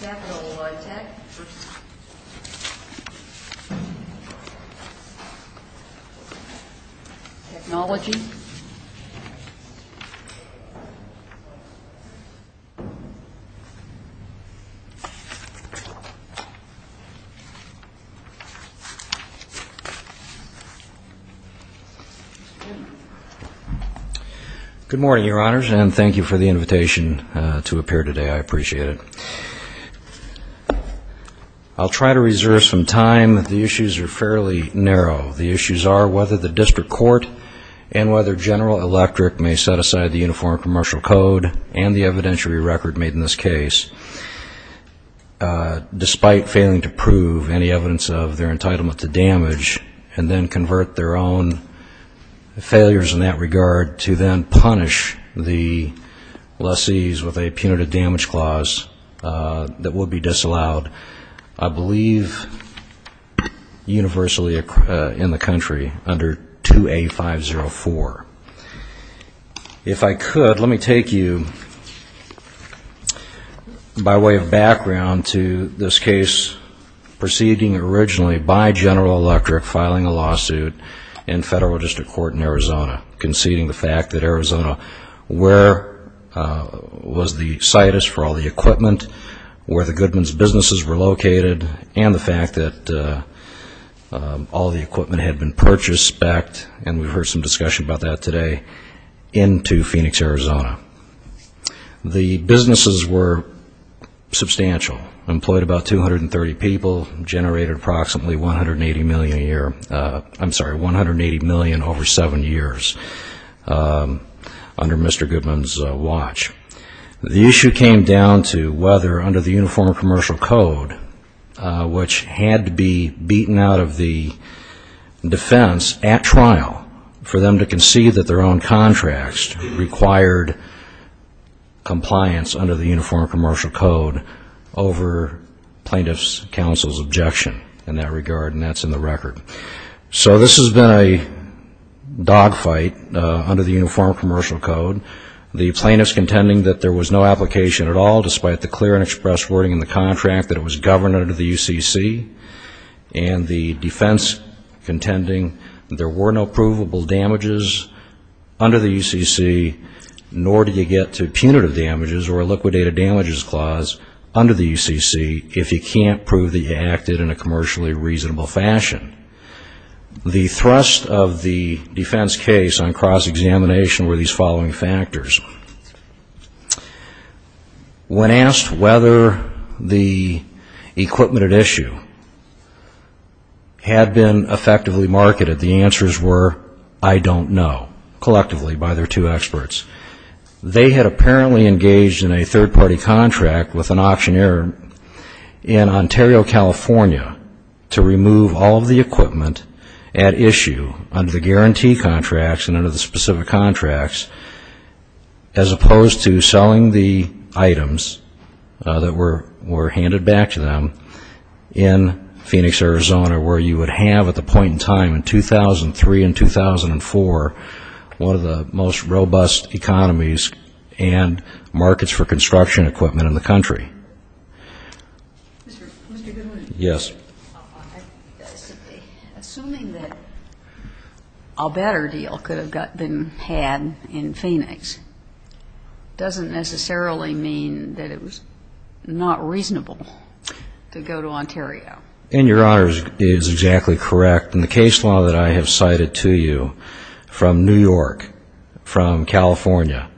Capitol High Tech Technology Good morning, Your Honors, and thank you for the invitation to appear today. I appreciate it. I'll try to reserve some time. The issues are fairly narrow. The issues are whether the District Court and whether General Electric may set aside the Uniform Commercial Code and the evidentiary record made in this case, despite failing to prove any evidence of their entitlement to damage, and then convert their own failures in that regard to then punish the lessees with a punitive damage clause that would be disallowed, I believe, universally in the country under 2A504. If I could, let me take you by way of background to this case proceeding originally by General Electric filing a lawsuit in Federal District Court in Arizona, conceding the fact that Arizona was the site for all the equipment, where all the equipment had been purchased, specced, and we've heard some discussion about that today, into Phoenix, Arizona. The businesses were substantial, employed about 230 people, generated approximately $180 million a year, I'm sorry, $180 million over seven years under Mr. Goodman's watch. The issue came down to whether under the Uniform Commercial Code, which had to be beaten out of the defense at trial for them to concede that their own contracts required compliance under the Uniform Commercial Code over plaintiff's counsel's objection in that regard, and that's in the record. So this has been a dogfight under the Uniform Commercial Code. The plaintiffs contending that there was no application at all, despite the clear and expressed wording in the contract that it was governed under the UCC, and the defense contending there were no provable damages under the UCC, nor do you get to punitive damages or a liquidated damages clause under the UCC if you can't prove that you acted in a commercially reasonable fashion. The thrust of the defense case on cross-examination were these following factors. When asked whether the equipment at issue had been effectively marketed, the answers were, I don't know, collectively by their two experts. They had apparently engaged in a third-party contract with an auctioneer in Ontario, California to remove all of the equipment at issue under the guarantee contracts and under the specific contracts, as opposed to selling the items that were handed back to them in Phoenix, Arizona, where you would have at the point in time in 2003 and 2004 one of the most robust economies and markets for construction equipment in the country. Mr. Goodwin. Yes. Assuming that a better deal could have been had in Phoenix doesn't necessarily mean that it was not reasonable to go to Ontario. And your Honor is exactly correct. And the case law that I have cited to you from New York, from California,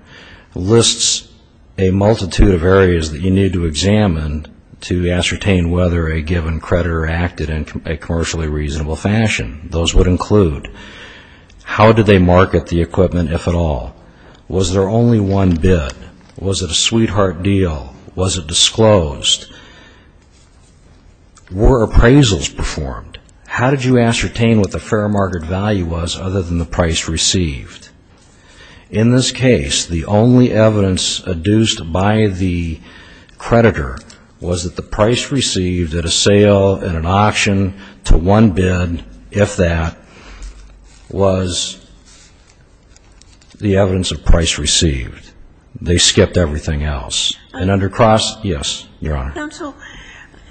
lists a multitude of areas that you need to examine to ascertain whether a given creditor acted in a commercially reasonable fashion. Those would include, how did they market the equipment if at all? Was there only one bid? Was it a sweetheart deal? Was it disclosed? Were appraisals performed? How did you ascertain what the fair market value was other than the price received? In this case, the only evidence adduced by the creditor was that the price received at a sale, at an auction, to one bid, if that, was the evidence of price received. They skipped everything else. And under cross, yes, your Honor. Counsel,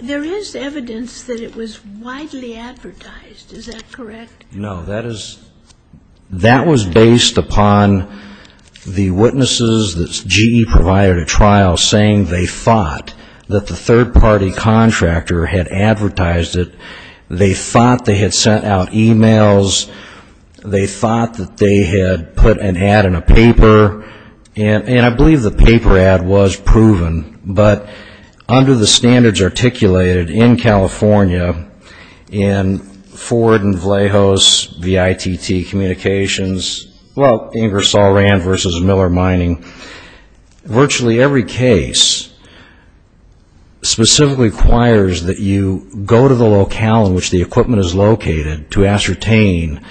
there is evidence that it was widely advertised. Is that correct? No. That is, that was based upon the witnesses that GE provided a trial saying they thought that the third-party contractor had advertised it. They thought they had sent out emails. They thought that they had put an ad in a paper. And I believe the paper ad was proven. But under the standards articulated in California, in Ford and Vallejos, the ITT communications, well, Ingersoll Rand v. Miller Mining, virtually every case specifically requires that you go to the locale in which the equipment is located to ascertain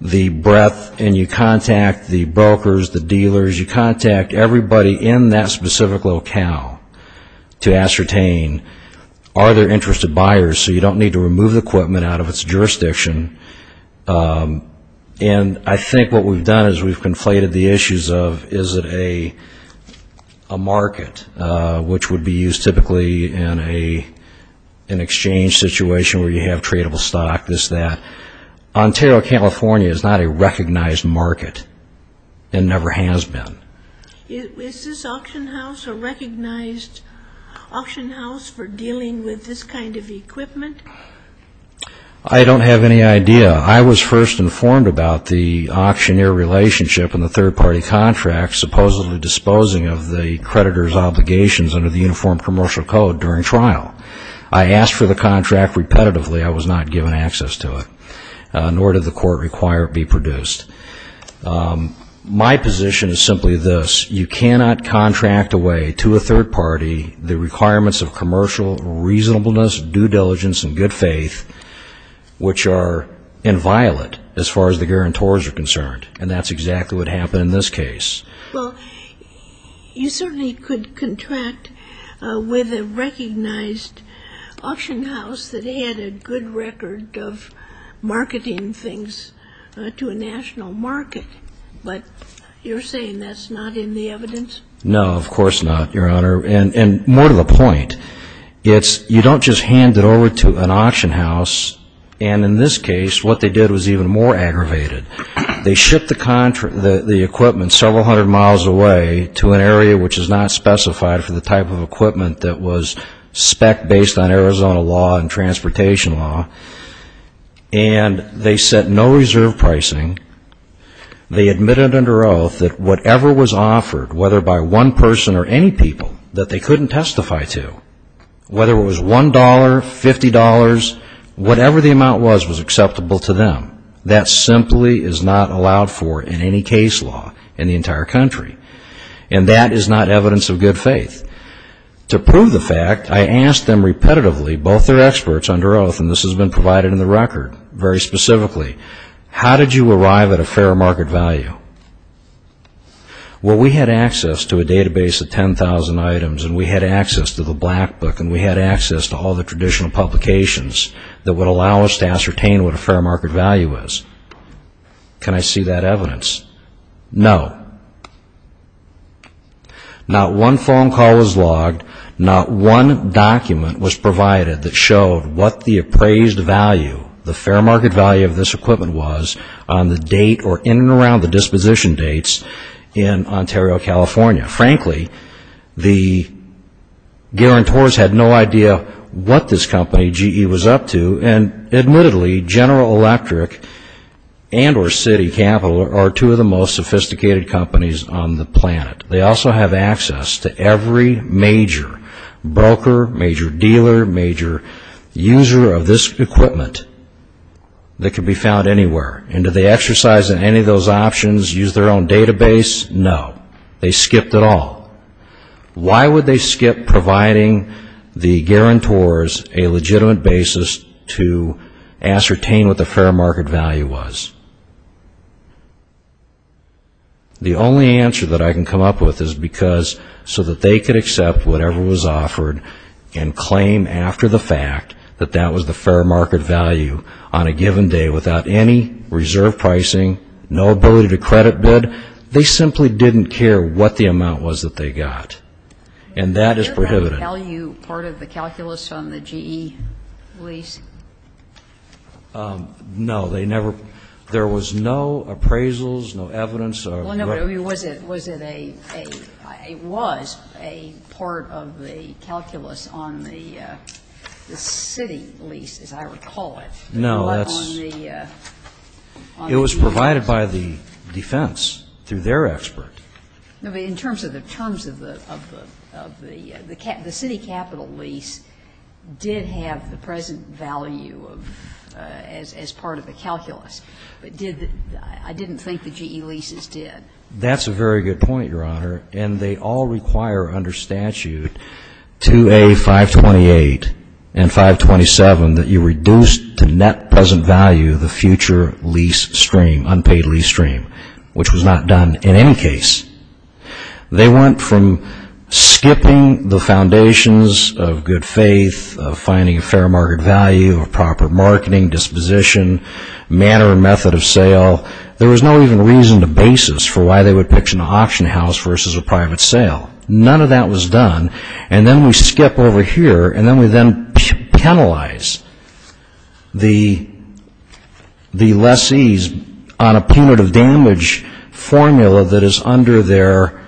the breadth and you contact the brokers, the dealers, you contact everybody in that specific locale to ascertain are there interested buyers so you don't need to remove the equipment out of its jurisdiction. And I think what we've done is we've conflated the issues of is it a market, which would be used typically in an exchange situation where you have tradable stock, this, that. Ontario, California is not a recognized market and never has been. Is this auction house a recognized auction house for dealing with this kind of equipment? I don't have any idea. I was first informed about the auctioneer relationship and the third-party contract supposedly disposing of the creditor's obligations under the Uniform Commercial Code during trial. I asked for the contract repetitively. I was not given access to it, nor did the court require it be produced. My position is simply this. You cannot contract away to a third party the requirements of commercial reasonableness, due diligence, and good faith, which are inviolate as far as the guarantors are concerned. And that's exactly what happened in this case. Well, you certainly could contract with a recognized auction house that had a good record of marketing things to a national market. But you're saying that's not in the evidence? No, of course not, Your Honor. And more to the point, it's you don't just hand it over to an auction house. And in this case, what they did was even more aggravated. They shipped the equipment several hundred miles away to an area which is not specified for the type of equipment that was spec based on Arizona law and transportation law, and they set no reserve pricing. They admitted under oath that whatever was offered, whether by one person or any people, that they couldn't testify to, whether it was $1, $50, whatever the amount was, was acceptable to them. That simply is not allowed for in any case law in the entire country. And that is not evidence of good faith. To prove the fact, I asked them repetitively, both their experts under oath, and this has been provided in the record very specifically, how did you arrive at a fair market value? Well, we had access to a database of 10,000 items, and we had access to the Black Book, and we had access to all the traditional publications that would allow us to ascertain what a fair market value is. Can I see that evidence? No. Not one phone call was logged, not one document was provided that showed what the appraised value, the fair market value of this equipment was on the date or in and around the disposition dates in Ontario, California. Frankly, the guarantors had no idea what this company, GE, was up to, and admittedly, General Electric and or Citi Capital are two of the most sophisticated companies on the planet. They also have access to every major broker, major dealer, major user of this equipment that could be found anywhere. And did they exercise in any of those options, use their own database? No. They skipped it all. Why would they skip providing the guarantors a legitimate basis to ascertain what the fair market value was? The only answer that I can come up with is because so that they could accept whatever was offered and claim after the fact that that was the fair market value on a given day without any reserve pricing, no ability to credit bid, they simply didn't care what the amount was that they got, and that is prohibited. Was the fair market value part of the calculus on the GE lease? No, they never, there was no appraisals, no evidence of Well, no, but was it a, it was a part of the calculus on the Citi lease, as I recall it. No, that's, it was provided by the defense through their expert. No, but in terms of the terms of the, of the, of the, the Citi Capital lease did have the present value of, as part of the calculus, but did, I didn't think the GE leases did. That's a very good point, Your Honor, and they all require under statute 2A.528 and 527 that you reduce to net present value the future lease stream, unpaid lease stream, which was not done in any case. They went from skipping the foundations of good faith, of finding a fair market value, of proper marketing disposition, manner and method of sale, there was no even reason to basis for why they would pitch an auction house versus a private sale. None of that was done, and then we skip over here and then we then penalize the lessees on a punitive damage formula that is under their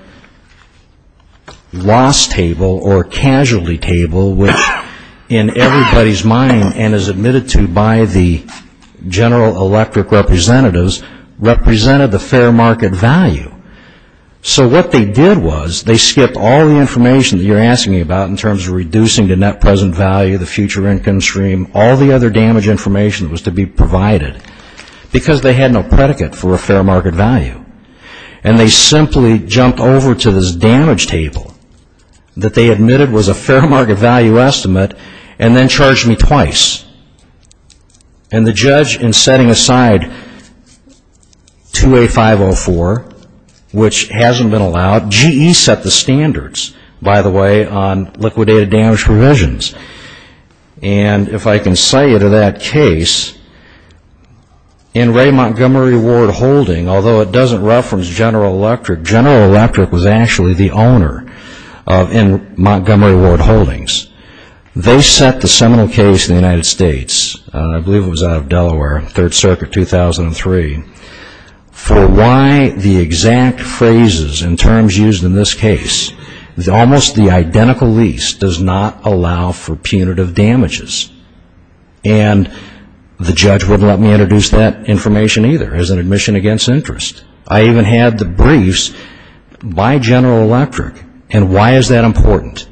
loss table or casualty table which in everybody's mind and is admitted to by the general electric representatives represented the fair market value. So what they did was they skipped all the information that you're asking me about in terms of reducing the net present value, the future income stream, all the other damage information that was to be provided because they had no predicate for a fair market value. And they simply jumped over to this damage table that they admitted was a fair market value estimate and then charged me twice. And the judge in setting aside 2A504, which hasn't been allowed, GE set the standards, by the way, on liquidated damage provisions. And if I can cite you to that case, in Ray Montgomery Ward Holding, although it doesn't reference General Electric, General Electric was actually the owner in Montgomery Ward Holdings. They set the seminal case in the United States, I believe it was out of Delaware, 3rd Circuit, 2003, for why the exact phrases and terms used in this case, almost the identical lease, does not allow for punitive damages. And the judge wouldn't let me introduce that information either as an admission against interest. I even had the briefs by General Electric. And why is that important?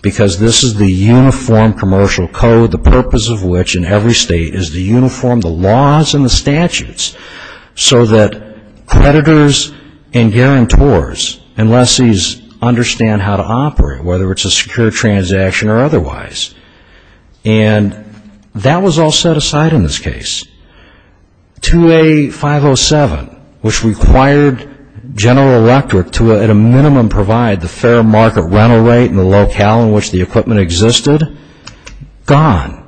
Because this is the uniform commercial code, the purpose of which in every state is the uniform, the laws and the statutes so that creditors and guarantors and lessees understand how to operate, whether it's a secure transaction or otherwise. And that was all set aside in this case. 2A507, which required General Electric to at a minimum provide the fair market rental rate and the equipment existed, gone.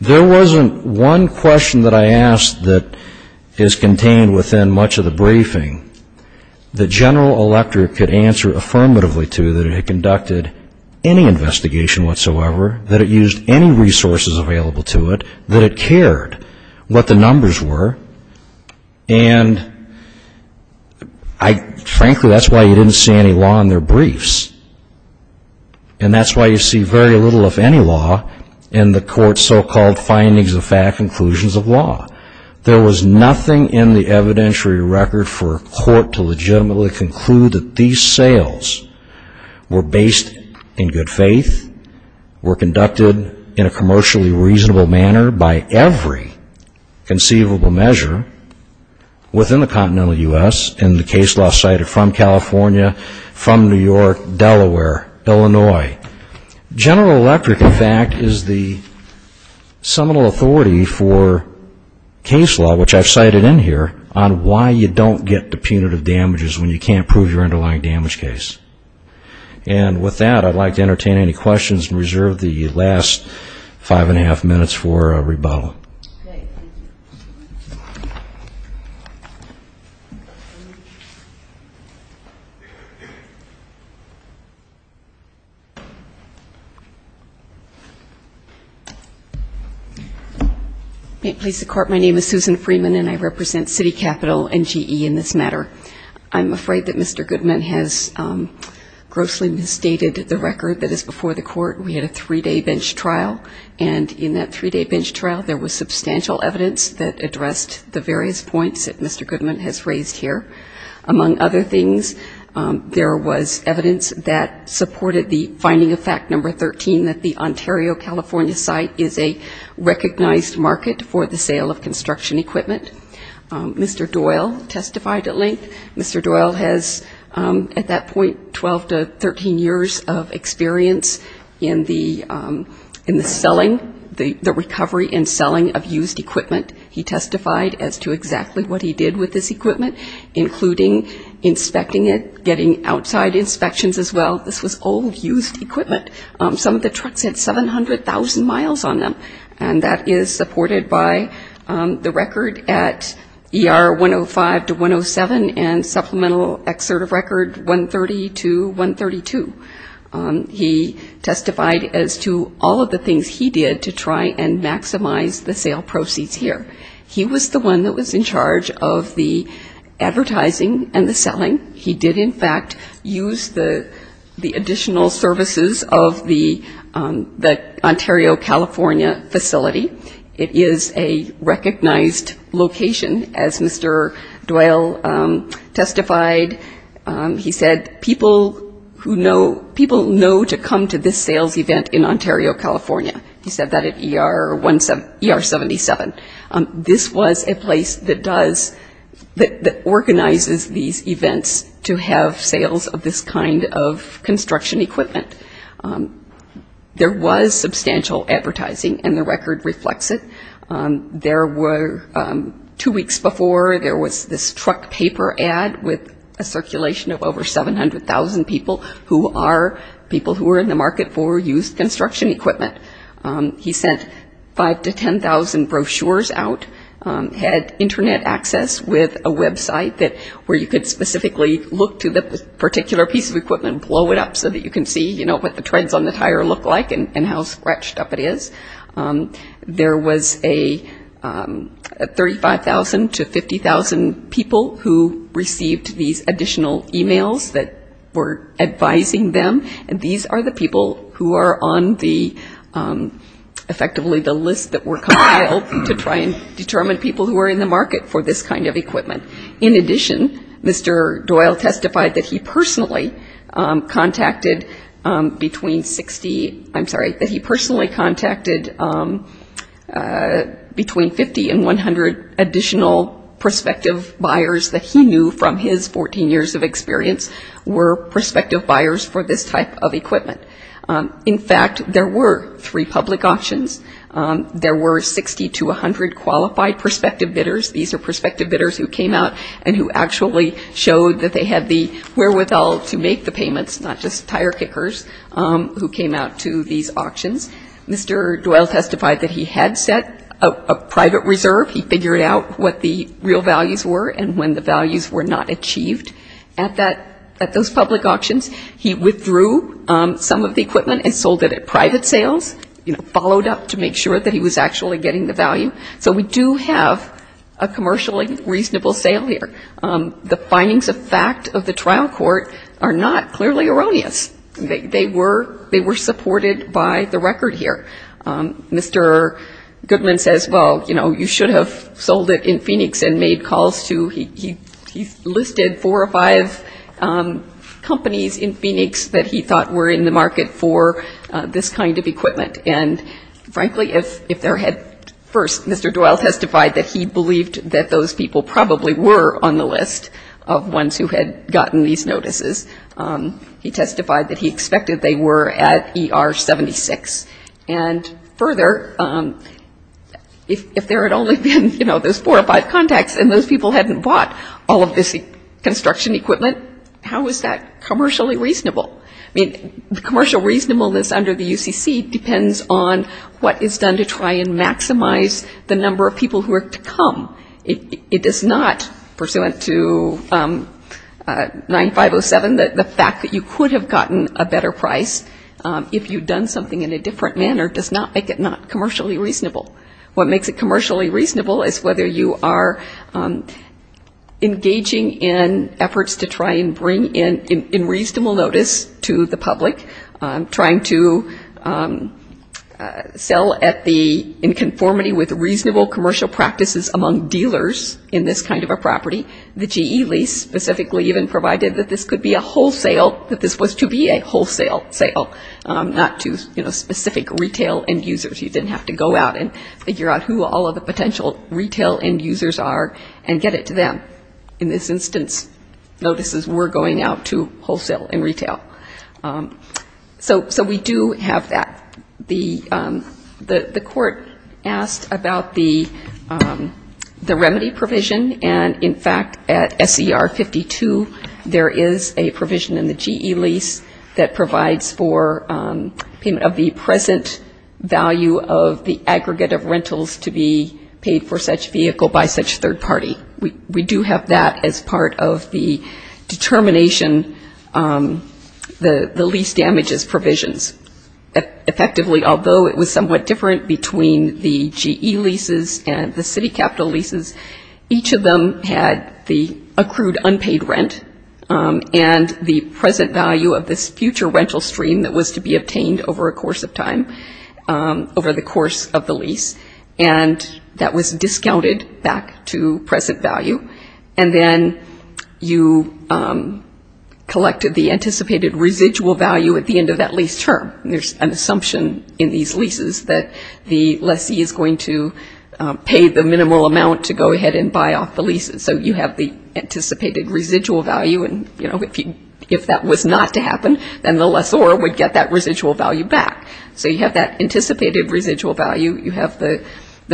There wasn't one question that I asked that is contained within much of the briefing that General Electric could answer affirmatively to that it had conducted any investigation whatsoever, that it used any resources available to it, that it cared what the numbers were. And frankly, that's why you didn't see any law in their case. And that's why you see very little, if any, law in the court's so-called findings of fact, conclusions of law. There was nothing in the evidentiary record for a court to legitimately conclude that these sales were based in good faith, were conducted in a commercially reasonable manner by every conceivable measure within the continental U.S. And the case law cited from California, from New York, Delaware, Illinois. General Electric, in fact, is the seminal authority for case law, which I've cited in here, on why you don't get the punitive damages when you can't prove your underlying damage case. And with that, I'd like to entertain any questions and reserve the last five and a half minutes for a rebuttal. Ms. Freeman. May it please the Court, my name is Susan Freeman, and I represent City Capital and GE in this matter. I'm afraid that Mr. Goodman has grossly misstated the record that is before the Court. We had a three-day bench trial, and in that three-day bench trial, there was substantial evidence that addressed the various points that Mr. Goodman has raised here, among other things, there was evidence that supported the finding of fact number 13 that the Ontario-California site is a recognized market for the sale of construction equipment. Mr. Doyle testified at length. Mr. Doyle has, at that point, 12 to 13 years of experience in the selling, the recovery and selling of used equipment. He testified as to exactly what he did with this equipment, including inspecting it, getting outside inspections as well. This was old, used equipment. Some of the trucks had 700,000 miles on them, and that is supported by the record at ER 105 to 107 and supplemental excerpt of record 130 to 132. He testified as to all of the things he did to try and maximize the sale proceeds here. He was the one that was in charge of the advertising and the selling. He did, in fact, use the additional services of the Ontario-California facility. It is a recognized location, as Mr. Doyle testified. He said, people who know, people know to come to this sales event in a place that does, that organizes these events to have sales of this kind of construction equipment. There was substantial advertising, and the record reflects it. There were, two weeks before, there was this truck paper ad with a circulation of over 700,000 people who are people who are in the market for used construction equipment. He sent 5 to 10,000 brochures out, had internet access with a website that, where you could specifically look to the particular piece of equipment, blow it up so that you can see what the treads on the tire look like and how scratched up it is. There was a 35,000 to 50,000 people who received these additional emails that were advising them, and these are the people who are on the, effectively, the list that were compiled to try and determine people who are in the market for this kind of equipment. In addition, Mr. Doyle testified that he personally contacted between 60, I'm sorry, that he personally contacted between 50 and 100 additional prospective buyers that he knew from his 14 years of experience were prospective buyers for this type of equipment. In fact, there were three public auctions. There were 60 to 100 qualified prospective bidders. These are prospective bidders who came out and who actually showed that they had the wherewithal to make the payments, not just tire kickers, who came out to these auctions. Mr. Doyle testified that he had set a private reserve. He figured out what the real values were and when the values were not achieved. At that, at those public auctions, he withdrew some of the equipment and sold it at private sales, you know, followed up to make sure that he was actually getting the value. So we do have a commercially reasonable sale here. The findings of fact of the trial court are not clearly erroneous. They were supported by the record here. Mr. Goodman says, well, you know, you should have sold it in Phoenix and made calls to, he listed four or five companies in Phoenix that he thought were in the market for this kind of equipment. And frankly, if there had, first, Mr. Doyle testified that he believed that those people probably were on the list of ones who had gotten these notices. He testified that he expected they were at ER 76. And further, if there had only been, you know, those four or five contacts and those people hadn't bought all of this construction equipment, how is that commercially reasonable? I mean, the commercial reasonableness under the UCC depends on what is done to try and maximize the number of people who are to come. It does not, pursuant to 9507, the fact that you could have gotten a better price if you had done something in a different manner does not make it not commercially reasonable. What makes it commercially reasonable is whether you are engaging in efforts to try and bring in reasonable notice to the public, trying to sell at the, in conformity with reasonable commercial practices among dealers in this kind of a property. The GE lease specifically even provided that this could be a wholesale, that this was to be a wholesale sale, not to, you know, specific retail end users. You didn't have to go out and figure out who all of the potential retail end users are and get it to them. In this instance, notices were going out to wholesale and retail. So we do have that. The court asked about the remedy provision and, in fact, at SER 52, there is a provision in the GE lease that provides for payment of the present value of the aggregate of rentals to be paid for such vehicle by such third party. We do have that as part of the determination of the lease damages provisions. Effectively, although it was somewhat different between the GE leases and the city capital leases, each of them had the accrued unpaid rent and the present value of this future rental stream that was to be obtained over a course of time, over the course of the lease, and that was discounted back to present value. And then you collected the anticipated residual value at the end of that lease term. There's an assumption in these leases that the lessee is going to pay the minimal amount to go ahead and buy off the leases. So you have the anticipated residual value and, you know, if that was not to happen, then the lessor would get that residual value back. So you have that anticipated residual value. You have the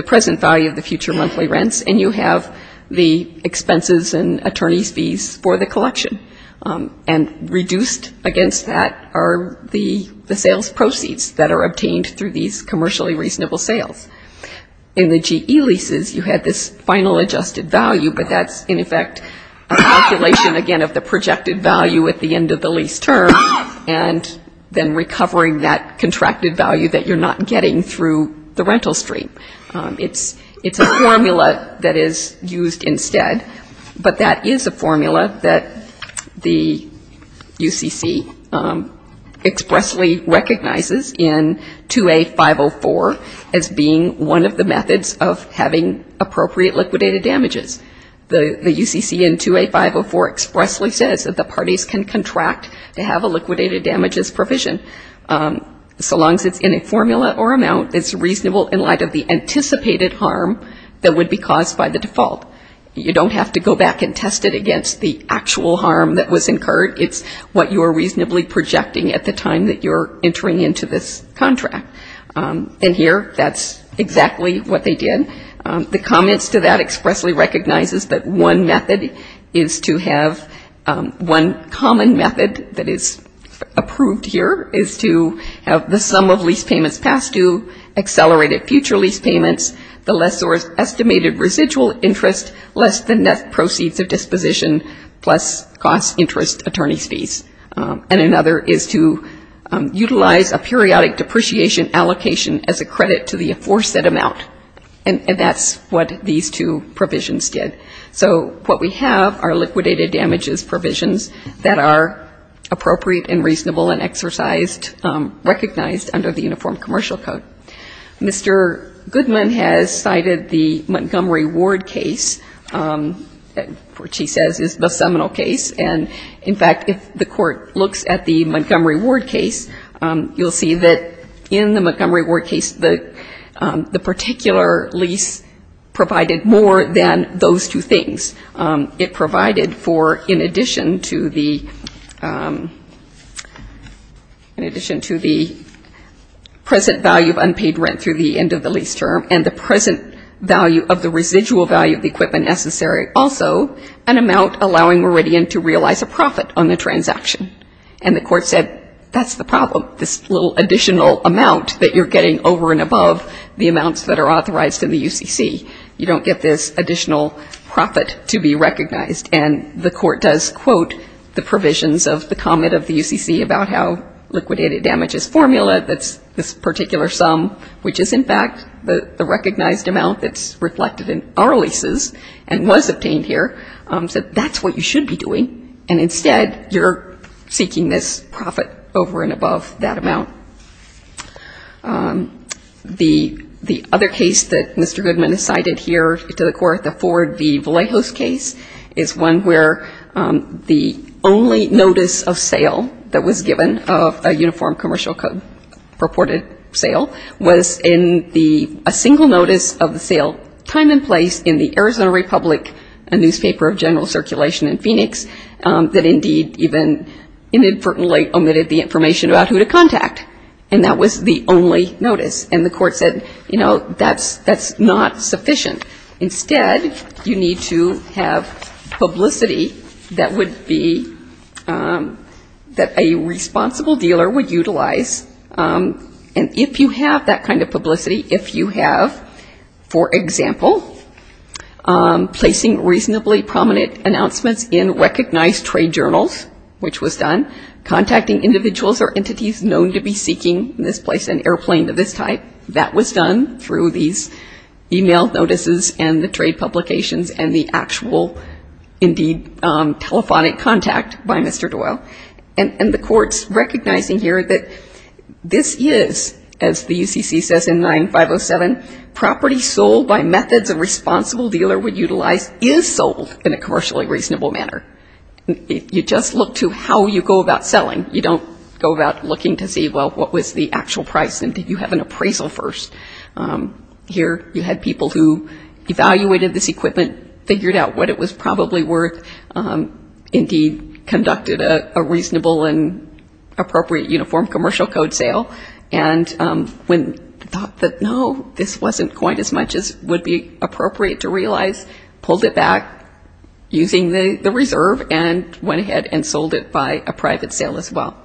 present value of the future monthly rents and you have the attorney's fees for the collection. And reduced against that are the sales proceeds that are obtained through these commercially reasonable sales. In the GE leases, you had this final adjusted value, but that's, in effect, a calculation, again, of the projected value at the end of the lease term and then recovering that contracted value that you're not getting through the lease. There is a formula that the UCC expressly recognizes in 2A.504 as being one of the methods of having appropriate liquidated damages. The UCC in 2A.504 expressly says that the parties can contract to have a liquidated damages provision so long as it's in a formula or amount that's reasonable in light of the anticipated harm that would be caused by the against the actual harm that was incurred. It's what you're reasonably projecting at the time that you're entering into this contract. And here, that's exactly what they did. The comments to that expressly recognizes that one method is to have one common method that is approved here is to have the sum of lease payments past due, accelerated future lease acquisition, plus cost, interest, attorney's fees. And another is to utilize a periodic depreciation allocation as a credit to the enforced amount. And that's what these two provisions did. So what we have are liquidated damages provisions that are appropriate and reasonable and exercised, recognized under the Uniform Commercial Code. Mr. Goodman has cited the Montgomery Ward case, which he says is the seminal case. And, in fact, if the Court looks at the Montgomery Ward case, you'll see that in the Montgomery Ward case, the particular lease provided more than those two things. It provided for, in addition to the, in addition to the present value of unreasonable damages, it provided unpaid rent through the end of the lease term, and the present value of the residual value of the equipment necessary, also an amount allowing Meridian to realize a profit on the transaction. And the Court said, that's the problem, this little additional amount that you're getting over and above the amounts that are authorized in the UCC. You don't get this additional profit to be recognized. And the Court does quote the provisions of the comment of the UCC about how liquidated damages formula that's this particular sum, which is, in fact, the recognized amount that's reflected in our leases and was obtained here, said that's what you should be doing. And, instead, you're seeking this profit over and above that amount. The other case that Mr. Goodman has cited here to the Court, the Ford v. Vallejos case, is one where the only notice of sale that was given of a uniform commercial code purported sale was in the, a single notice of the sale, time and place, in the Arizona Republic Newspaper of General Circulation in Phoenix, that indeed even inadvertently omitted the information about who to contact. And that was the only notice. And the Court said, you know, that's not sufficient. Instead, you need to have publicity that would be, that a responsible dealer would utilize. And if you have that kind of publicity, if you have, for example, placing reasonably prominent announcements in recognized trade journals, which was done, contacting individuals or entities known to be seeking in this place an airplane of this type, that was done through these e-mail notices and the trade publications and the actual indeed telephonic contact by Mr. Doyle. And the Court's recognizing here that this is, as the UCC says in 9507, property sold by methods a responsible dealer would utilize is sold in a commercially reasonable manner. You just look to how you go about selling. You don't go about looking to see, well, what was the actual price and did you have an appraisal first? Here you had people who evaluated this equipment, figured out what it was probably worth, indeed conducted a reasonable and appropriate uniform commercial code sale, and when thought that, no, this wasn't quite as much as would be appropriate to realize, pulled it back using the reserve and went ahead and sold it by a private sale as well.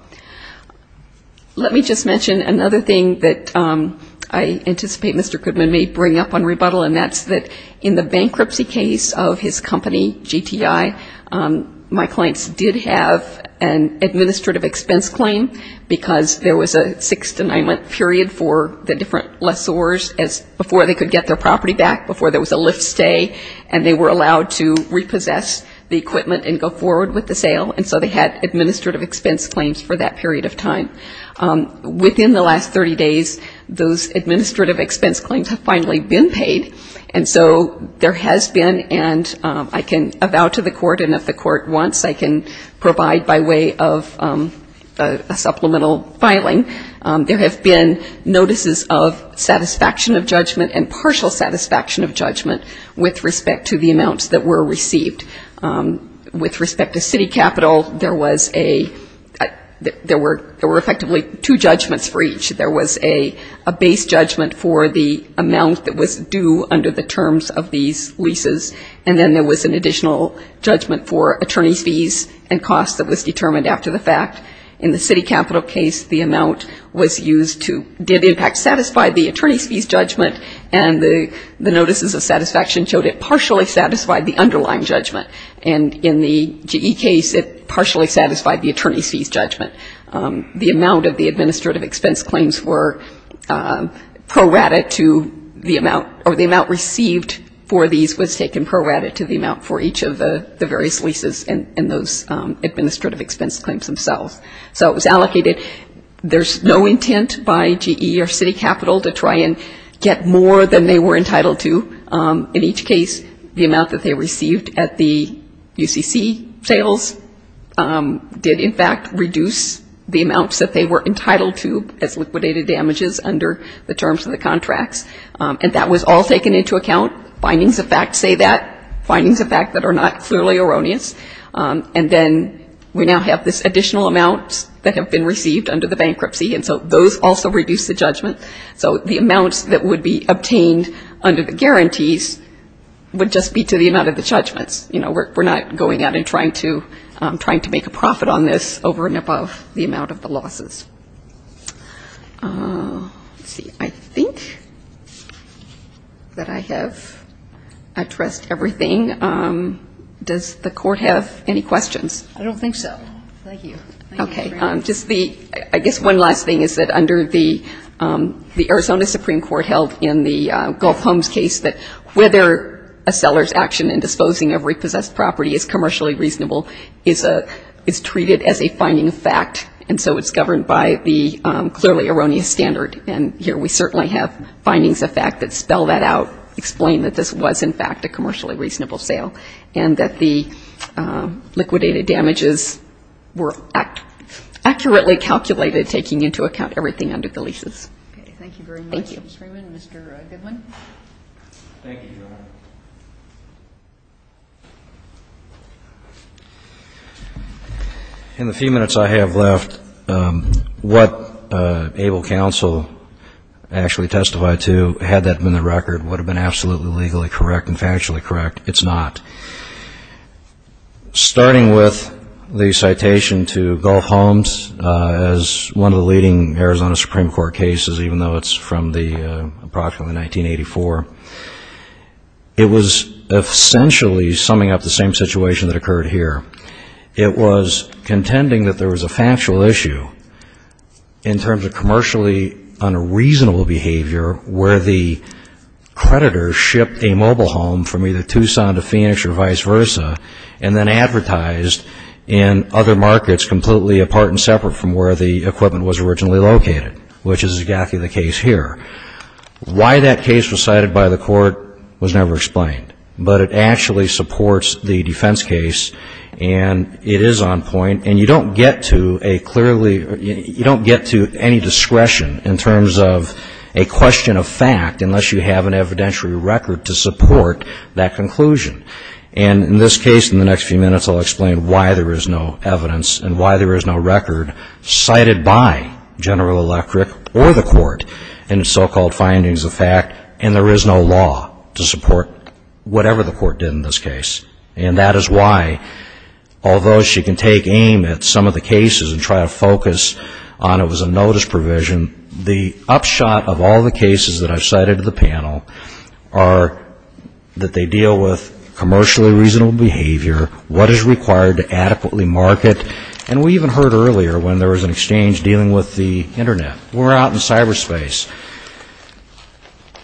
Let me just mention another thing that I anticipate Mr. Goodman may bring up on rebuttal, and that's that in the bankruptcy case of his company, GTI, my clients did have an administrative expense claim because there was a six-denyment period for the different lessors before they could get their property back, before there was a lift stay, and they were allowed to repossess the equipment and go forward with the sale, and so they had administrative expense claims for that period of time. Within the last 30 days, those administrative expense claims have finally been paid, and so there has been, and I can avow to the court and if the court wants, I can provide by way of a supplemental filing, there have been notices of satisfaction of judgment and partial satisfaction of judgment with respect to the there were effectively two judgments for each. There was a base judgment for the amount that was due under the terms of these leases, and then there was an additional judgment for attorney's fees and costs that was determined after the fact. In the city capital case, the amount was used to, did in fact satisfy the attorney's fees judgment, and the notices of satisfaction showed it partially satisfied the underlying judgment, and in the GE case, it partially satisfied the attorney's fees judgment. The amount of the administrative expense claims were prorated to the amount, or the amount received for these was taken prorated to the amount for each of the various leases and those administrative expense claims themselves. So it was allocated. There's no intent by GE or city capital to try and get more than they were entitled to. In each case, the amount that they received at the UCC sales did in fact reduce the amounts that they were entitled to as liquidated damages under the terms of the contracts, and that was all taken into account. Findings of fact say that. Findings of fact that are not clearly erroneous. And then we now have this additional amount that have been received under the bankruptcy, and so those also reduce the judgment. So the amounts that would be obtained under the guarantees would just be to the amount of the judgments. You know, we're not going out and trying to make a profit on this over and above the amount of the losses. Let's see. I think that I have addressed everything. Does the Court have any questions? I don't think so. Thank you. Okay. Just the ‑‑ I guess one last thing is that under the Arizona Supreme Court held in the Gulf Homes case that whether a seller's action in disposing of repossessed property is commercially reasonable is treated as a finding of fact, and so it's governed by the clearly erroneous standard. And here we certainly have findings of fact that spell that out, explain that this was in fact a commercially reasonable sale, and that the liquidated damages were accurately calculated, taking into account everything under the leases. Okay. Thank you very much. Thank you. Thank you, Mr. Freeman. Mr. Goodwin. Thank you, Your Honor. In the few minutes I have left, what ABLE counsel actually testified to, had that been the record, would have been absolutely legally correct and factually correct. It's not. Starting with the citation to Gulf Homes as one of the leading Arizona Supreme Court cases, even though it's from the approximately 1984, it was essentially summing up the same situation that occurred here. It was contending that there was a factual issue in terms of commercially unreasonable behavior where the creditor shipped a mobile home from either Tucson to Phoenix or vice versa, and then advertised in other markets completely apart and separate from where the equipment was originally located, which is exactly the case here. Why that case was cited by the Court was never explained. But it actually supports the defense case, and it is on point. And you don't get to a clearly, you don't get to any discretion in terms of a question of fact unless you have an evidentiary record to support that conclusion. And in this case, in the next few minutes, I'll explain why there is no evidence and why there is no record cited by General Electric or the Court in the so-called findings of fact, and there is no law to support whatever the Court did in this case. And that is why, although she can take aim at some of the cases and try to focus on it was a notice provision, the upshot of all the cases that I've cited in the panel are that they deal with commercially reasonable behavior, what is required to adequately market, and we even heard earlier when there was an exchange dealing with the Internet. We're out in cyberspace.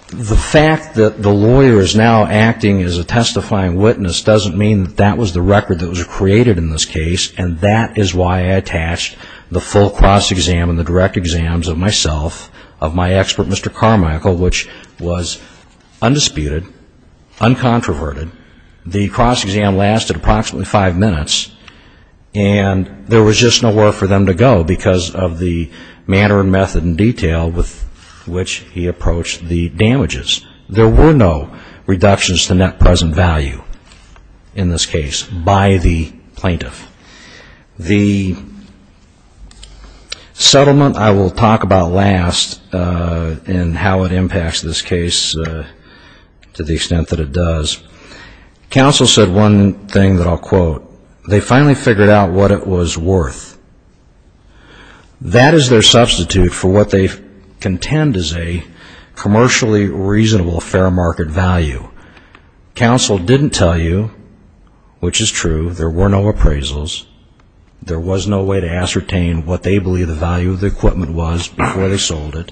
The fact that the lawyer is now acting as a testifying witness doesn't mean that that was the record that was created in this case, and that is why I attached the full cross-exam and the direct exams of myself, of my expert, Mr. Carmichael, which was undisputed, uncontroverted, the cross-exam lasted approximately five minutes, and there was just nowhere for them to go because of the manner and method and detail with which he approached the damages. There were no reductions to net present value in this case by the plaintiff. The settlement I will talk about last and how it impacts this case to the extent that it does, counsel said one thing that I'll quote, they finally figured out what it was worth. That is their substitute for what they contend is a commercially reasonable fair market value. Counsel didn't tell you, which is true, there were no appraisals, there was no way to ascertain what they believe the value of the equipment was before they sold it.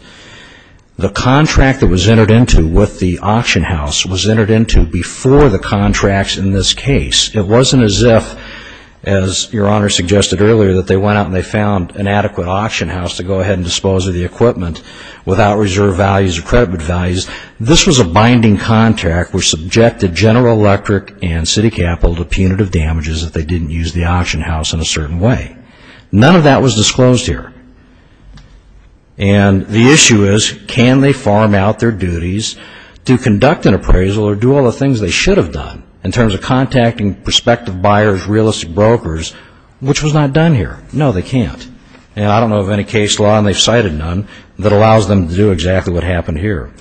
The contract that was entered into with the auction house was entered into before the contracts in this case. It wasn't as if, as your Honor suggested earlier, that they went out and they found an adequate auction house to go ahead and dispose of the equipment without reserve values or credit values. This was a binding contract which subjected General Electric and City Capital to punitive damages if they didn't use the auction house in a The issue is can they farm out their duties to conduct an appraisal or do all the things they should have done in terms of contacting prospective buyers, real estate brokers, which was not done here. No, they can't. I don't know of any case law, and they've cited none, that allows them to do exactly what happened here.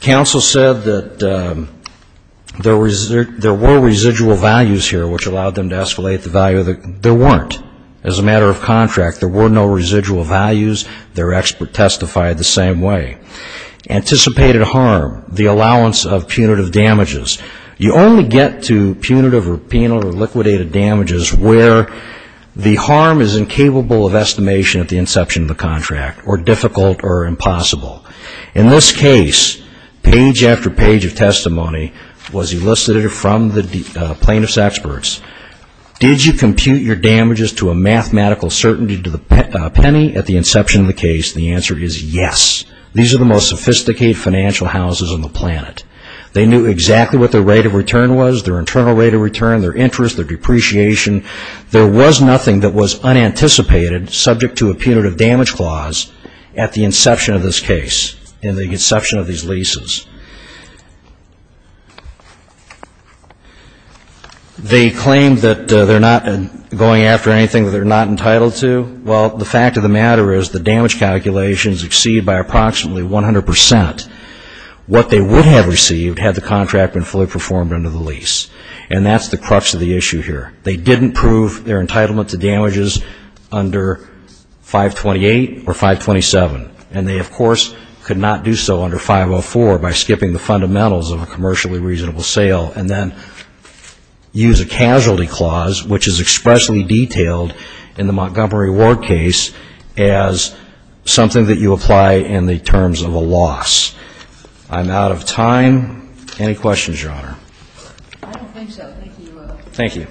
Counsel said that there were residual values here which allowed them to escalate the value. There weren't. As a matter of contract, there were no residual values. Their expert testified the same way. Anticipated harm, the allowance of punitive damages. You only get to punitive or penal or liquidated damages where the harm is incapable of estimation at the inception of the contract or difficult or impossible. In this case, page after page of testimony was elicited from the plaintiff's experts. Did you compute your damages to a mathematical certainty to the penny at the inception of the case? The answer is yes. These are the most sophisticated financial houses on the planet. They knew exactly what their rate of return was, their internal rate of return, their interest, their depreciation. There was nothing that was unanticipated subject to a punitive damage clause at the inception of this case, in the inception of these leases. They claim that they're not going after anything that they're not entitled to. Well, the fact of the matter is the damage calculations exceed by approximately 100% what they would have received had the contract been fully performed under the lease. And that's the crux of the issue here. They didn't prove their entitlement to damages under 528 or 527. And they of course could not do so under 504 by skipping the fundamentals of a commercially reasonable sale and then use a casualty clause, which is expressly detailed in the Montgomery Ward case as something that you apply in the terms of a loss. I'm out of time. Any questions Your Honor? I don't think so. Thank you. Thank you.